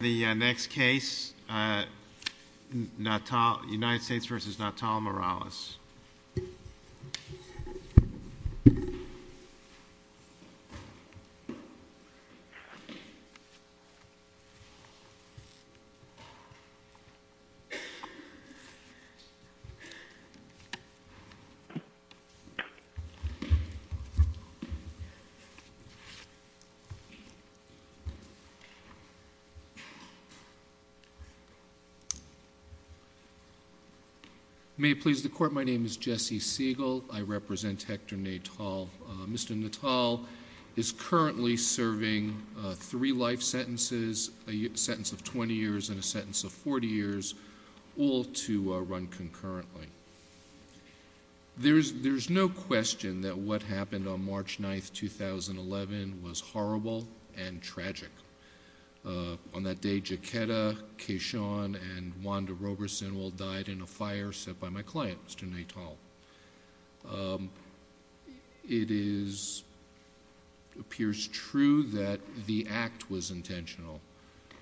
The next case, United States v. Natal Morales. May it please the Court, my name is Jesse Siegel. I represent Hector Natal. Mr. Natal is currently serving three life sentences, a sentence of 20 years and a sentence of 40 years, all to run concurrently. There is no question that what happened on March 9, 2011 was horrible and tragic. On that day, Jaquetta, Kayshawn and Wanda Roberson died in a fire set by my client, Mr. Natal. It appears true that the act was intentional,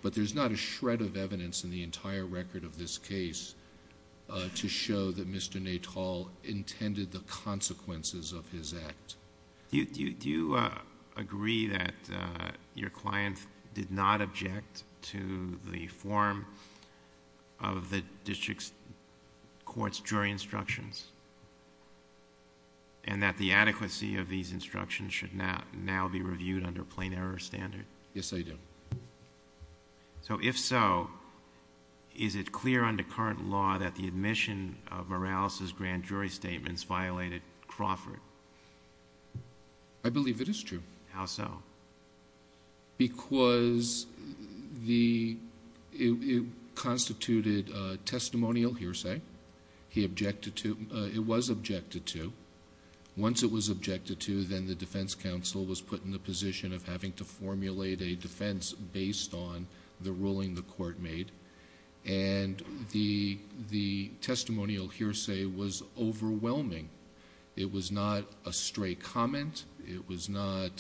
but there's not a shred of evidence in the entire record of this case to show that Mr. Natal intended the consequences of his act. Do you agree that your client did not object to the form of the district court's jury instructions and that the adequacy of these instructions should now be reviewed under plain error standard? Yes, I do. If so, is it clear under current law that the admission of Morales' grand jury statements violated Crawford? I believe it is true. How so? Because it constituted a testimonial hearsay. It was objected to. Once it was objected to, then the defense counsel was put in the position of having to formulate a defense based on the ruling the court made. The testimonial hearsay was overwhelming. It was not a stray comment. It was not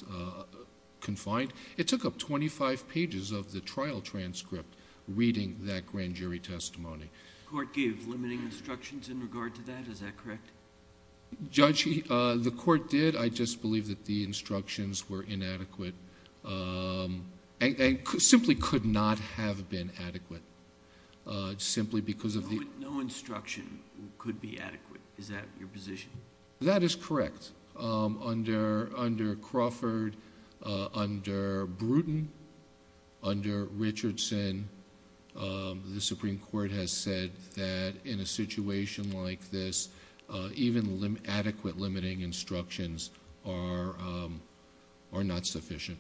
confined. It took up twenty-five pages of the trial transcript reading that grand jury testimony. The court gave limiting instructions in regard to that. Is that correct? Judge, the court did. I just believe that the instructions were inadequate and simply could not have been adequate. No instruction could be adequate. Is that your position? That is correct. Under Crawford, under Bruton, under Richardson, the Supreme Court has said that in a situation like this, even adequate limiting instructions are not sufficient.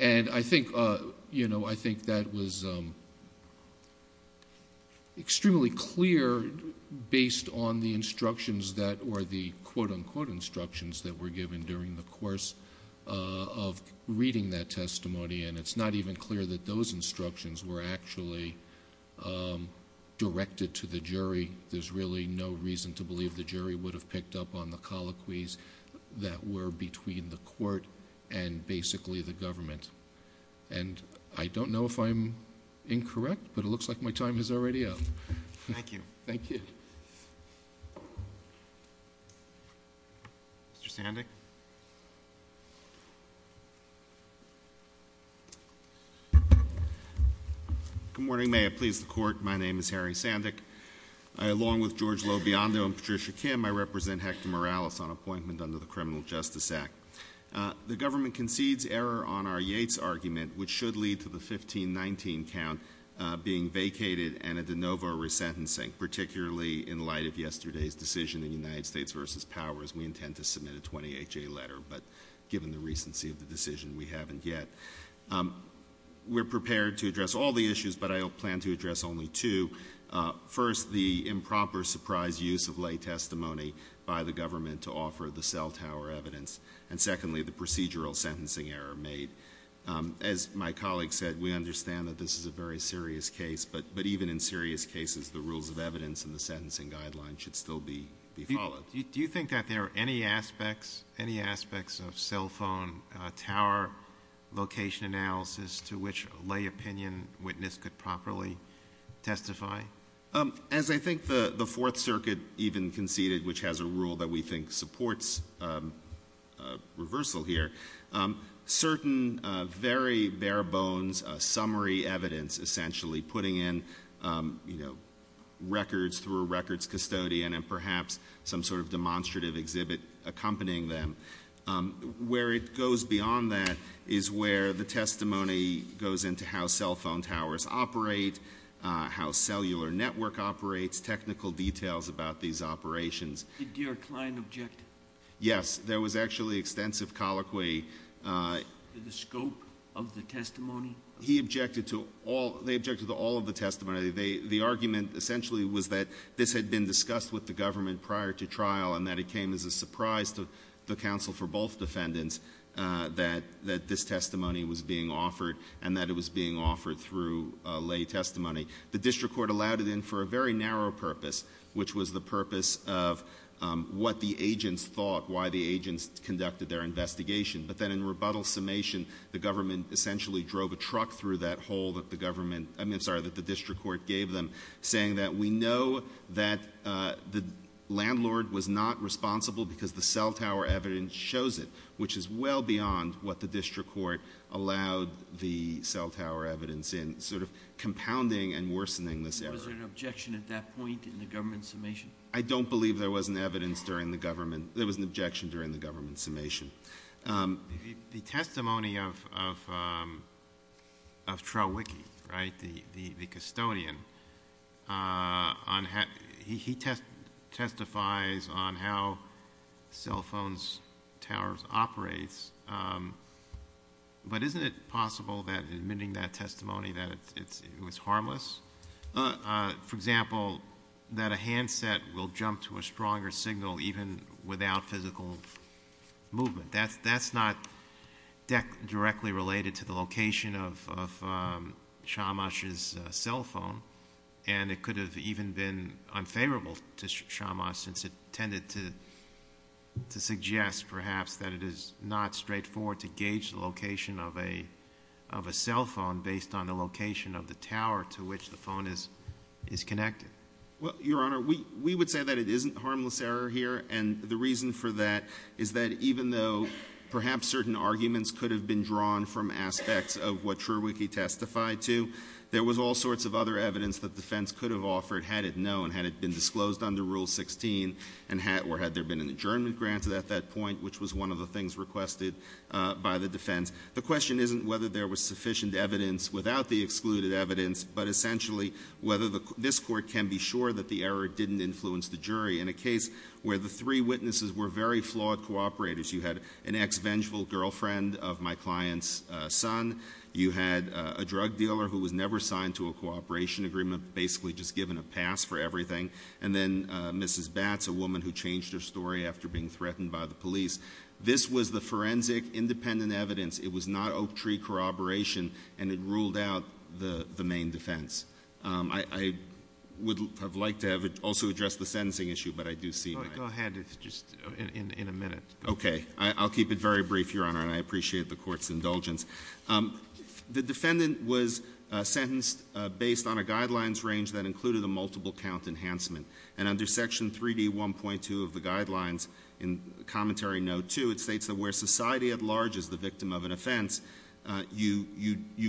I think that was extremely clear based on the instructions that were the quote-unquote instructions that were given during the course of reading that testimony. It's not even clear that those instructions were actually directed to the jury. There's really no reason to believe the jury would have picked up on the colloquies that were between the court and basically the government. I don't know if I'm incorrect, but it looks like my time is already up. Thank you. Mr. Sandick? Good morning. May I please the Court? My name is Harry Sandick. Along with George Lobiondo and Patricia Kim, I represent Hector Morales on appointment under the Criminal Justice Act. The government concedes error on our Yates argument, which should lead to the 1519 count being vacated and a de novo resentencing, particularly in light of yesterday's decision in United States v. Powers. We intend to submit a 20HA letter, but given the recency of the decision, we haven't yet. We're prepared to address all the issues, but I plan to address only two. First, the improper surprise use of lay testimony by the government to offer the cell tower evidence, and secondly, the procedural sentencing error made. As my colleague said, we understand that this is a very serious case, but even in serious cases, the rules of evidence and the sentencing guidelines should still be followed. Do you think that there are any aspects of cell phone tower location analysis to which lay opinion witness could properly testify? As I think the Fourth Circuit even conceded, which has a rule that we think supports reversal here, certain very bare bones summary evidence essentially putting in, you know, records through a records custodian and perhaps some sort of demonstrative exhibit accompanying them. Where it goes beyond that is where the testimony goes into how cell phone towers operate, how cellular network operates, technical details about these operations. Did Deer Cline object? Yes. There was actually extensive colloquy. The scope of the testimony? He objected to all, they objected to all of the testimony. The argument essentially was that this had been discussed with the government prior to trial and that it came as a surprise to the counsel for both defendants that this testimony was being offered and that it was being offered through lay testimony. The district court allowed it in for a very narrow purpose, which was the purpose of what the agents thought, why the agents conducted their investigation. But then in rebuttal summation, the government essentially drove a truck through that hole that the government – I mean, I'm sorry, that the district court gave them, saying that we know that the landlord was not responsible because the cell tower evidence shows it, which is well beyond what the district court allowed the cell tower evidence in, sort of compounding and worsening this error. Was there an objection at that point in the government summation? I don't believe there was an evidence during the government – there was an objection during the government summation. The testimony of Trowicki, right, the custodian, he testifies on how cell phones' towers operate, but isn't it possible that admitting that testimony that it was harmless? For example, that a handset will jump to a stronger signal even without physical movement? That's not directly related to the location of Shamash's cell phone, and it could have even been unfavorable to Shamash, since it tended to suggest, perhaps, that it is not straightforward to gauge the based on the location of the tower to which the phone is connected. Well, Your Honor, we would say that it isn't harmless error here, and the reason for that is that even though perhaps certain arguments could have been drawn from aspects of what Trowicki testified to, there was all sorts of other evidence that defense could have offered had it known, had it been disclosed under Rule 16, or had there been an adjournment granted at that point, which was one of the things requested by the defense. The question isn't whether there was sufficient evidence without the excluded evidence, but essentially whether this Court can be sure that the error didn't influence the jury. In a case where the three witnesses were very flawed cooperators, you had an ex-vengeful girlfriend of my client's son, you had a drug dealer who was never signed to a cooperation agreement, basically just given a pass for everything, and then Mrs. Batts, a woman who changed her story after being threatened by the police, this was the forensic, independent evidence. It was not oak tree corroboration, and it ruled out the main defense. I would have liked to have also addressed the sentencing issue, but I do see my — Go ahead. It's just in a minute. Okay. I'll keep it very brief, Your Honor, and I appreciate the Court's indulgence. The defendant was sentenced based on a guidelines range that included a multiple count enhancement, and under Section 3D1.2 of the guidelines, in Commentary Note 2, it states that where society at large is the victim of an offense, you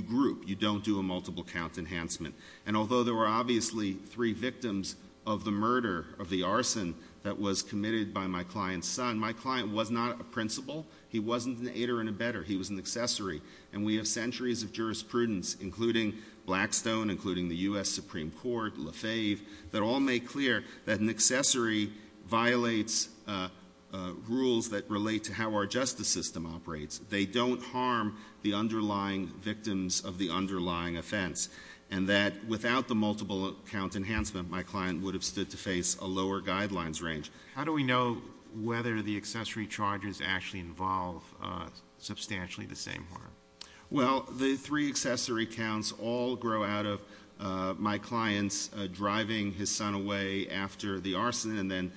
group, you don't do a multiple count enhancement. And although there were obviously three victims of the murder, of the arson, that was committed by my client's son, my client was not a principal, he wasn't an aider and abetter, he was an accessory, and we have centuries of jurisprudence, including Blackstone, including the U.S. Supreme Court, Lefebvre, that all make clear that an accessory violates rules that relate to how our justice system operates. They don't harm the underlying victims of the underlying offense, and that without the multiple count enhancement, my client would have stood to face a lower guidelines range. How do we know whether the accessory charges actually involve substantially the same harm? Well, the three accessory counts all grow out of my client's driving his son away after the arson and then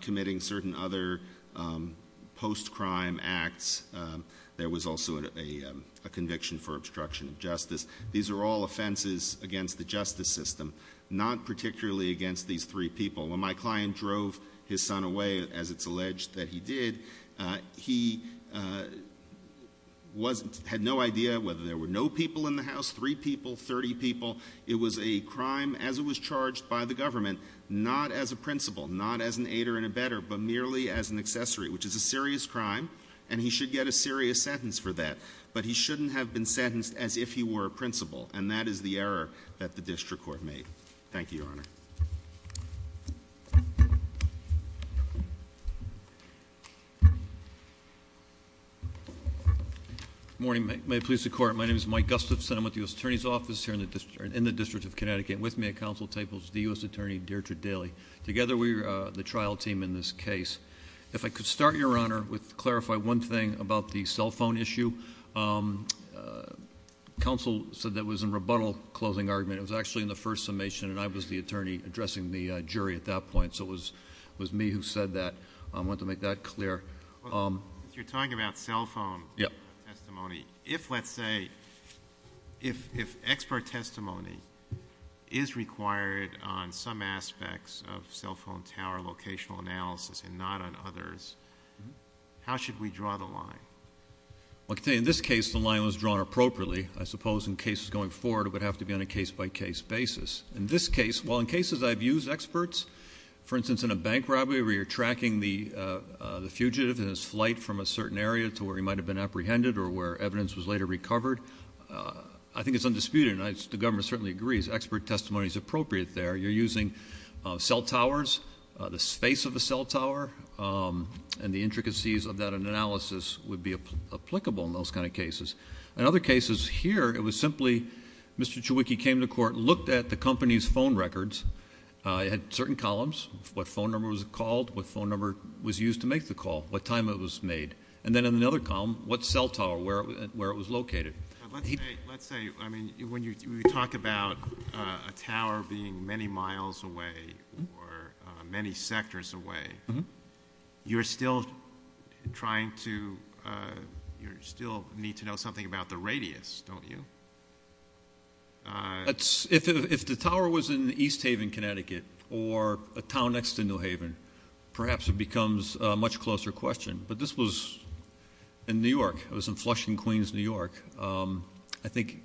committing certain other post-crime acts. There was also a conviction for obstruction of justice. These are all offenses against the justice system, not particularly against these three people. When my client drove his son away, as it's alleged that he did, he had no idea whether there were no people in the house, three people, 30 people. It was a crime as it was charged by the government, not as a principal, not as an aider and abetter, but merely as an accessory, which is a serious crime, and he should get a serious sentence for that. But he shouldn't have been sentenced as if he were a principal, and that is the error that the district court made. Thank you, Your Honor. Good morning. May it please the Court, my name is Mike Gustafson. I'm with the U.S. Attorney's Office here in the District of Connecticut. With me at Council table is the U.S. Attorney Deirdre Daly. Together we are the trial team in this case. If I could start, Your Honor, with clarify one thing about the cell phone issue. Counsel said that was a rebuttal closing argument. It was actually in the first summation, and I was the attorney addressing the jury at that point, so it was me who said that. I was there. If you're talking about cell phone testimony, if let's say, if expert testimony is required on some aspects of cell phone tower locational analysis and not on others, how should we draw the line? I can tell you in this case the line was drawn appropriately. I suppose in cases going forward it would have to be on a case-by-case basis. In this case, while in cases I've used experts, for instance, in a bank robbery where you're tracking the fugitive and his flight from a certain area to where he might have been apprehended or where evidence was later recovered, I think it's undisputed, and the government certainly agrees, expert testimony is appropriate there. You're using cell towers, the space of the cell tower, and the intricacies of that analysis would be applicable in those kind of cases. In other cases here, it was simply Mr. Chewicki came to court, looked at the company's phone records, had certain columns, what phone number was called, what phone number was used to make the call, what time it was made, and then in another column, what cell tower, where it was located. Let's say, I mean, when you talk about a tower being many miles away or many sectors away, you're still trying to, you still need to know something about the radius, don't you? If the tower was in East Haven, Connecticut, or a town next to New Haven, perhaps it becomes a much closer question, but this was in New York. It was in Flushing, Queens, New York. I think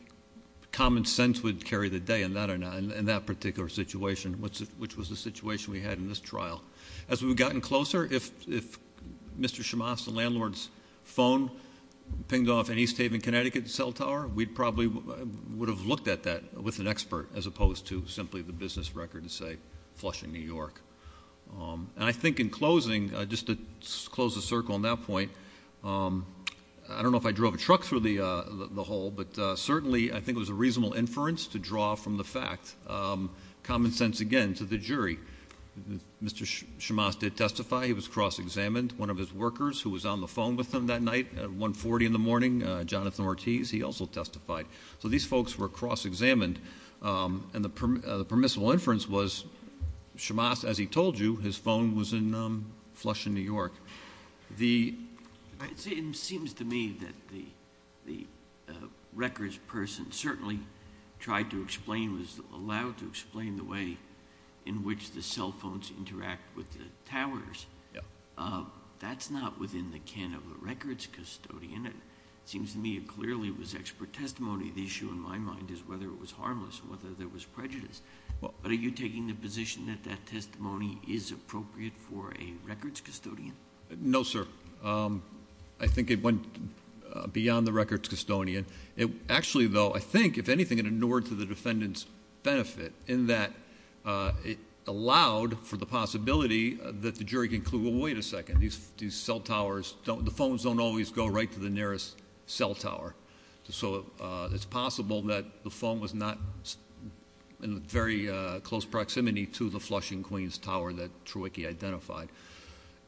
common sense would carry the day in that particular situation, which was the situation we had in this trial. As we've gotten closer, if Mr. Shamas, the landlord's phone, pinged off an East Haven, Connecticut cell tower, we probably would have looked at that with an expert as opposed to simply the business record and say, Flushing, New York. I think in closing, just to close the circle on that point, I don't know if I drove a truck through the hall, but certainly I think it was a reasonable inference to draw from the fact. Common sense, again, to the jury. Mr. Shamas did testify. He was cross-examined. One of his workers who was on the phone with him that night at 140 in the morning, Jonathan Ortiz, he also testified. These folks were cross-examined, and the permissible inference was Shamas, as he told you, his phone was in Flushing, New York. It seems to me that the records person certainly tried to explain, was allowed to explain the way in which the cell phones interact with the towers. That's not within the can of the records custodian. It seems to me it clearly was expert testimony. The issue in my mind is whether it was harmless, whether there was prejudice. Are you taking the position that that testimony is appropriate for a records custodian? No, sir. I think it went beyond the records custodian. Actually, though, I think, if anything, it inured to the defendant's benefit in that it allowed for the possibility that the jury concluded, wait a second, these cell towers, the phones don't always go right to the nearest cell tower. It's possible that the phone was not in very close proximity to the Flushing Queen's Tower that Trewicki identified.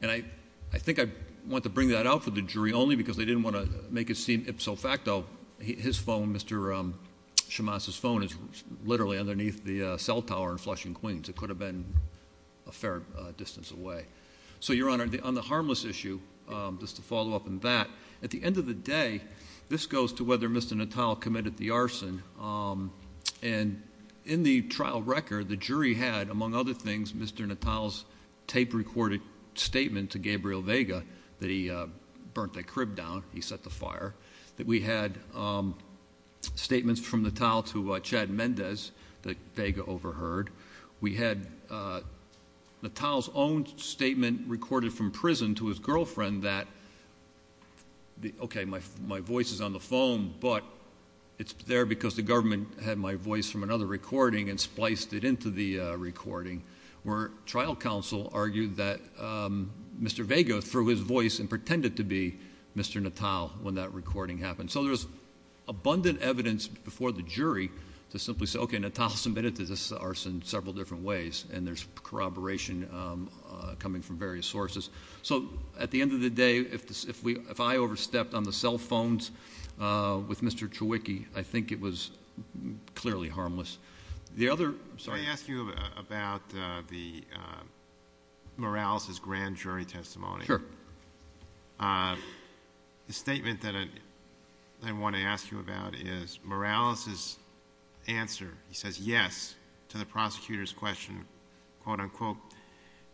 I think I want to bring that out for the jury only because they didn't want to make it seem ipso facto. His phone, Mr. Shamas' phone, is literally underneath the cell tower in Flushing Queen's. It could have been a fair distance away. So Your Honor, on the harmless issue, just to follow up on that, at the end of the day, this goes to whether Mr. Natale committed the arson. And in the trial record, the jury had, among other things, Mr. Natale's tape-recorded statement to Gabriel Vega that he burnt the cell tower. We had statements from Natale to Chad Mendez that Vega overheard. We had Natale's own statement recorded from prison to his girlfriend that, okay, my voice is on the phone, but it's there because the government had my voice from another recording and spliced it into the recording. Where trial counsel argued that Mr. Vega threw his voice and pretended to be Mr. Natale when that recording happened. So there's abundant evidence before the jury to simply say, okay, Natale submitted the arson several different ways, and there's corroboration coming from various sources. So at the end of the day, if I overstepped on the cell phones with Mr. Chewicki, I think it was clearly harmless. The other, I'm sorry to ask you about the, uh, Morales' grand jury testimony. Sure. Uh, the statement that I want to ask you about is Morales' answer. He says yes to the prosecutor's question, quote unquote,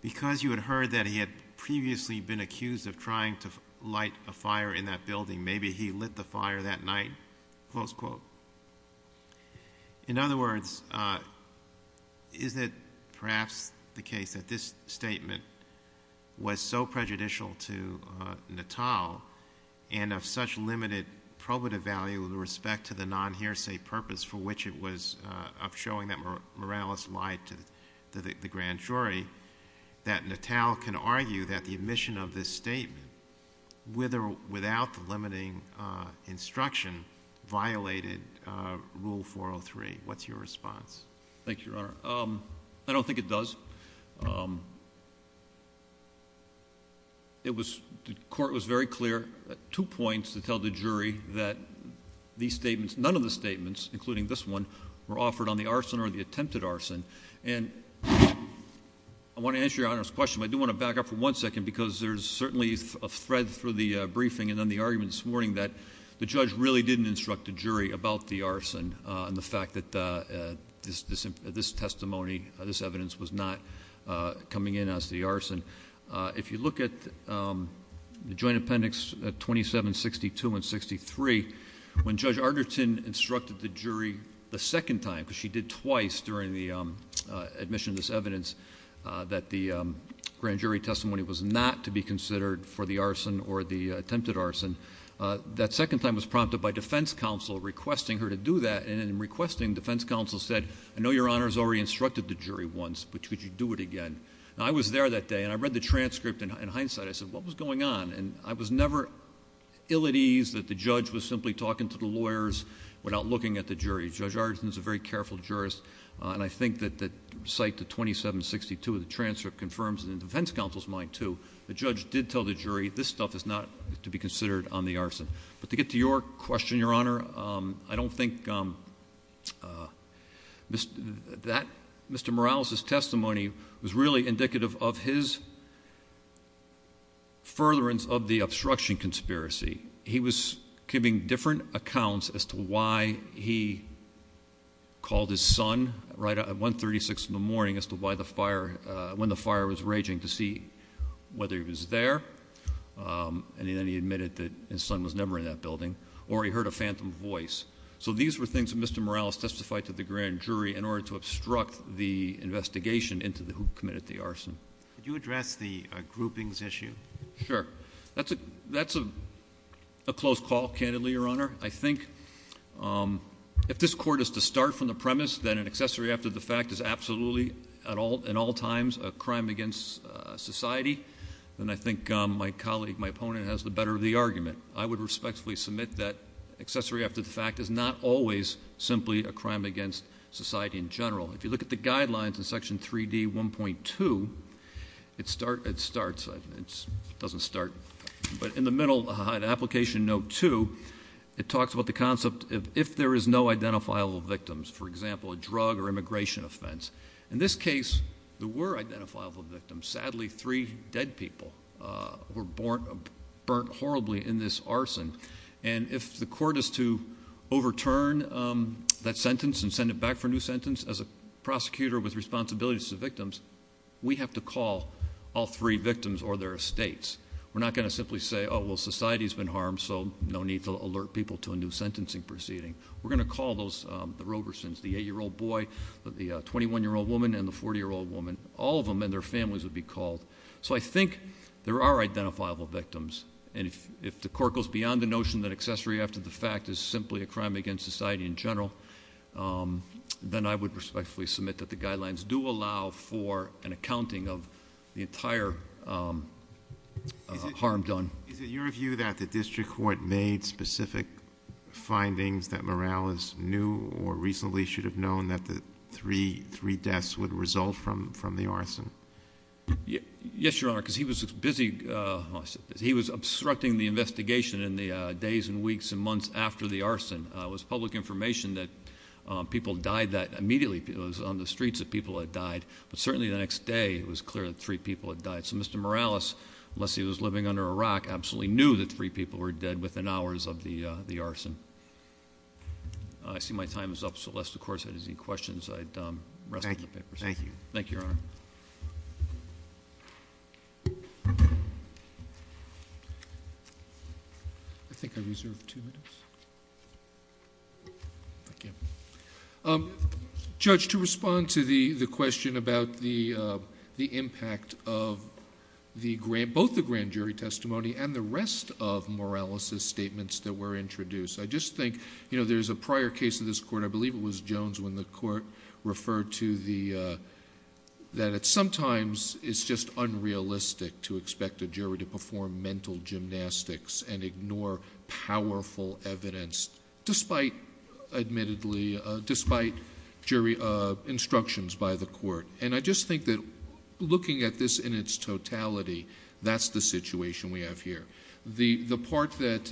because you had heard that he had previously been accused of trying to light a fire in that building. Maybe he lit the fire that night, close quote. In other words, uh, is it perhaps the case that this statement was so prejudicial to Natale and of such limited probative value with respect to the non hearsay purpose for which it was of showing that Morales lied to the grand jury that Natale can argue that the admission of this statement with or without the limiting instruction violated rule 403. What's your response? Thank you, Your Honor. Um, I don't think it does. Um, it was, the court was very clear at two points to tell the jury that these statements, none of the statements, including this one, were offered on the arson or the attempted arson. And I want to answer Your Honor's question, but I do want to back up for one second because there's certainly a thread through the briefing and then the argument this morning that the judge really didn't instruct the jury about the arson and the fact that this testimony, this evidence was not coming in as the arson. If you look at the joint appendix 2762 and 63, when Judge Arderton instructed the jury the second time, because she did twice during the admission of this evidence, that the grand jury testimony was not to be considered for the arson or the attempted arson, that second time was prompted by defense counsel requesting her to do that. And in requesting, defense counsel said, I know Your Honor's already instructed the jury once, but could you do it again? Now, I was there that day and I read the transcript and in hindsight I said, what was going on? And I was never ill at ease that the judge was simply talking to the lawyers without looking at the jury. Judge Arderton's a very careful jurist and I think that, that cite the 2762 of the transcript confirms, and in the case of the grand jury testimony, Judge Arderton did not instruct the jury. This stuff is not to be considered on the arson. But to get to your question, Your Honor, I don't think Mr. Morales' testimony was really indicative of his furtherance of the obstruction conspiracy. He was giving different accounts as to why he called his son right at 136 in the morning as to why the fire, when the fire was raging, to see whether he was there, and then he admitted that his son was never in that building, or he heard a phantom voice. So these were things that Mr. Morales testified to the grand jury in order to obstruct the investigation into who committed the arson. Could you address the groupings issue? Sure. That's a, that's a close call, candidly, Your Honor. I think if this court is to start from the premise that an accessory after the fact is absolutely, at all, in all times, a crime against society, then I think my colleague, my opponent, has the better of the argument. I would respectfully submit that accessory after the fact is not always simply a crime against society in general. If you look at the guidelines in Section 3D 1.2, it start, it starts, it doesn't start, but in the middle of the application note 2, it talks about the concept of if there is no identifiable victims, for example, a drug or immigration offense. In this case, there were identifiable victims. Sadly, three dead people were burnt horribly in this arson. And if the court is to overturn that sentence and send it back for a new sentence, as a prosecutor with responsibilities to victims, we have to call all three victims or their estates. We're not going to simply say, oh, well, society's been harmed, so no need to alert people to a new sentencing proceeding. We're going to call those, the Robersons, the 8-year-old boy, the 21-year-old woman, and the 40-year-old woman. All of them and their families would be called. So I think there are identifiable victims. And if the court goes beyond the notion that accessory after the fact is simply a crime against society in general, then I would respectfully submit that the guidelines do allow for an accounting of the entire harm done. Is it your view that the district court made specific findings that Morales knew or reasonably should have known that the three deaths would result from the arson? Yes, Your Honor, because he was busy. He was obstructing the investigation in the days and weeks and months after the arson. It was public information that people died that immediately. It was on the streets that people had died. But certainly the next day, it was clear that three people had died. So Mr. Morales, unless he was living under a rock, absolutely knew that three people were dead within hours of the arson. I see my time is up, so unless the court has any questions, I'd rest from the papers. Thank you. Thank you, Your Honor. Judge, to respond to the question about the impact of both the grand jury testimony and the rest of Morales' statements that were introduced, I just think, you know, there's a prior case in this court, I believe it was Jones, when the court referred to that sometimes it's just unrealistic to expect a jury to perform mental gymnastics and ignore powerful evidence despite, admittedly, despite jury instructions by the court. And I just think that looking at this in its totality, that's the situation we have here. The part that,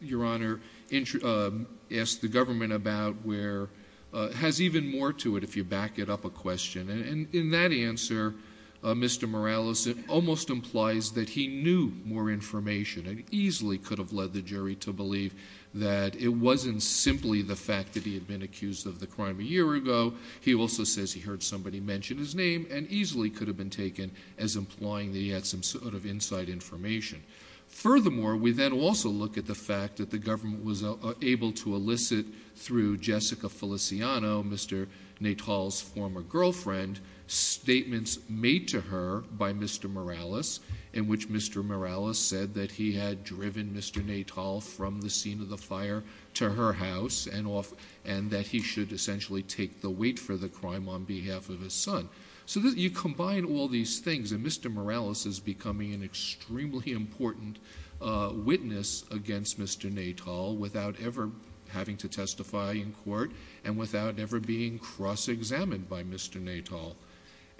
Your Honor, asked the government about where it has even more to it if you back it up a question. And in that answer, Mr. Morales, it almost implies that he knew more information and easily could have led the jury to believe that it wasn't simply the fact that he had been accused of the crime a year ago. He also says he heard somebody mention his name and easily could have been taken as implying that he had some sort of inside information. Furthermore, we then also look at the fact that the government was able to elicit through Jessica Feliciano, Mr. Natal's former girlfriend, statements made to her by Mr. Morales in which Mr. Morales said that he had driven Mr. Natal from the scene of the fire to her house and that he should essentially take the weight for the crime on behalf of his son. So you combine all these things and Mr. Morales is becoming an extremely important witness against Mr. Natal without ever having to testify in court and without ever being cross-examined by Mr. Natal.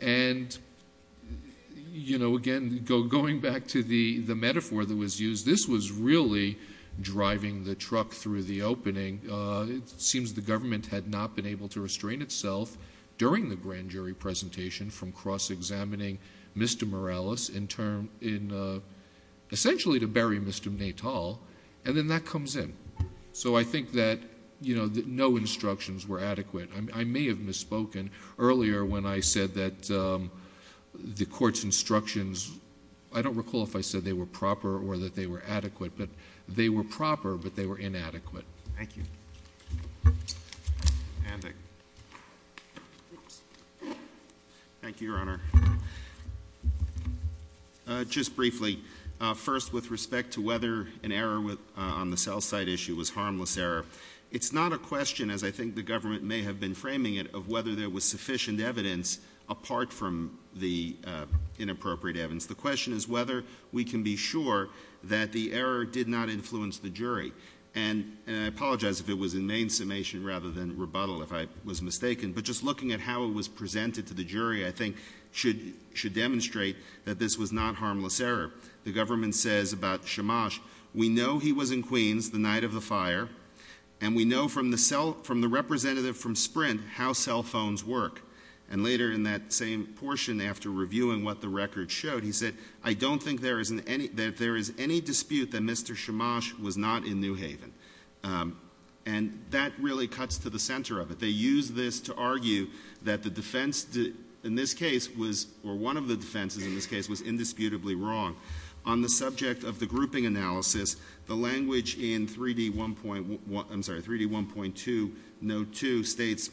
And again, going back to the metaphor that was used, this was really driving the truck through the opening. It seems the government had not been able to restrain itself during the grand jury presentation from cross-examining Mr. Morales in essentially to bury Mr. Natal and then that comes in. So I think that no instructions were adequate. I may have misspoken earlier when I said that the court's instructions, I don't recall if I said they were proper or that they were adequate, but they were proper but they were inadequate. Thank you, Your Honor. Just briefly, first with respect to whether an error on the cell site issue was harmless error, it's not a question as I think the government may have been framing it of whether there was sufficient evidence apart from the inappropriate evidence. The question is whether we can be sure that the error did not influence the jury. And I apologize if it was in main summation rather than rebuttal if I was mistaken, but just looking at how it was presented to the jury I think should demonstrate that this was not harmless error. The government says about Chamash, we know he was in Queens the night of the fire and we know from the representative from Sprint how cell phones work. And later in that same portion after reviewing what the record showed, he said, I don't think that there is any dispute that Mr. Chamash was not in New Haven. And that really cuts to the center of it. They use this to argue that the defense in this case was, or one of the defenses in this case was indisputably wrong. On the subject of the grouping analysis, the language in 3D 1.2 note 2 states,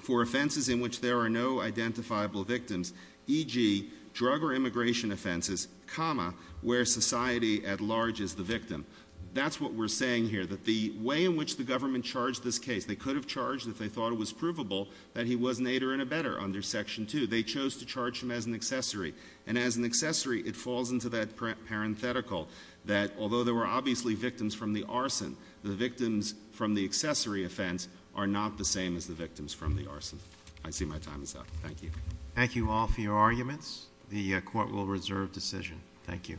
for offenses in which there are no identifiable victims, e.g., drug or immigration offenses, comma, where society at large is the victim. That's what we're saying here, that the way in which the government charged this case, they could have charged it if they thought it was provable that he was an aider and abetter under Section 2. They chose to charge him as an accessory. And as an accessory, it falls into that parenthetical that although there were obviously victims from the arson, the victims from the accessory offense are not the same as the victims from the arson. I see my time is up. Thank you. Thank you all for your arguments. The Court will reserve decision. Thank you.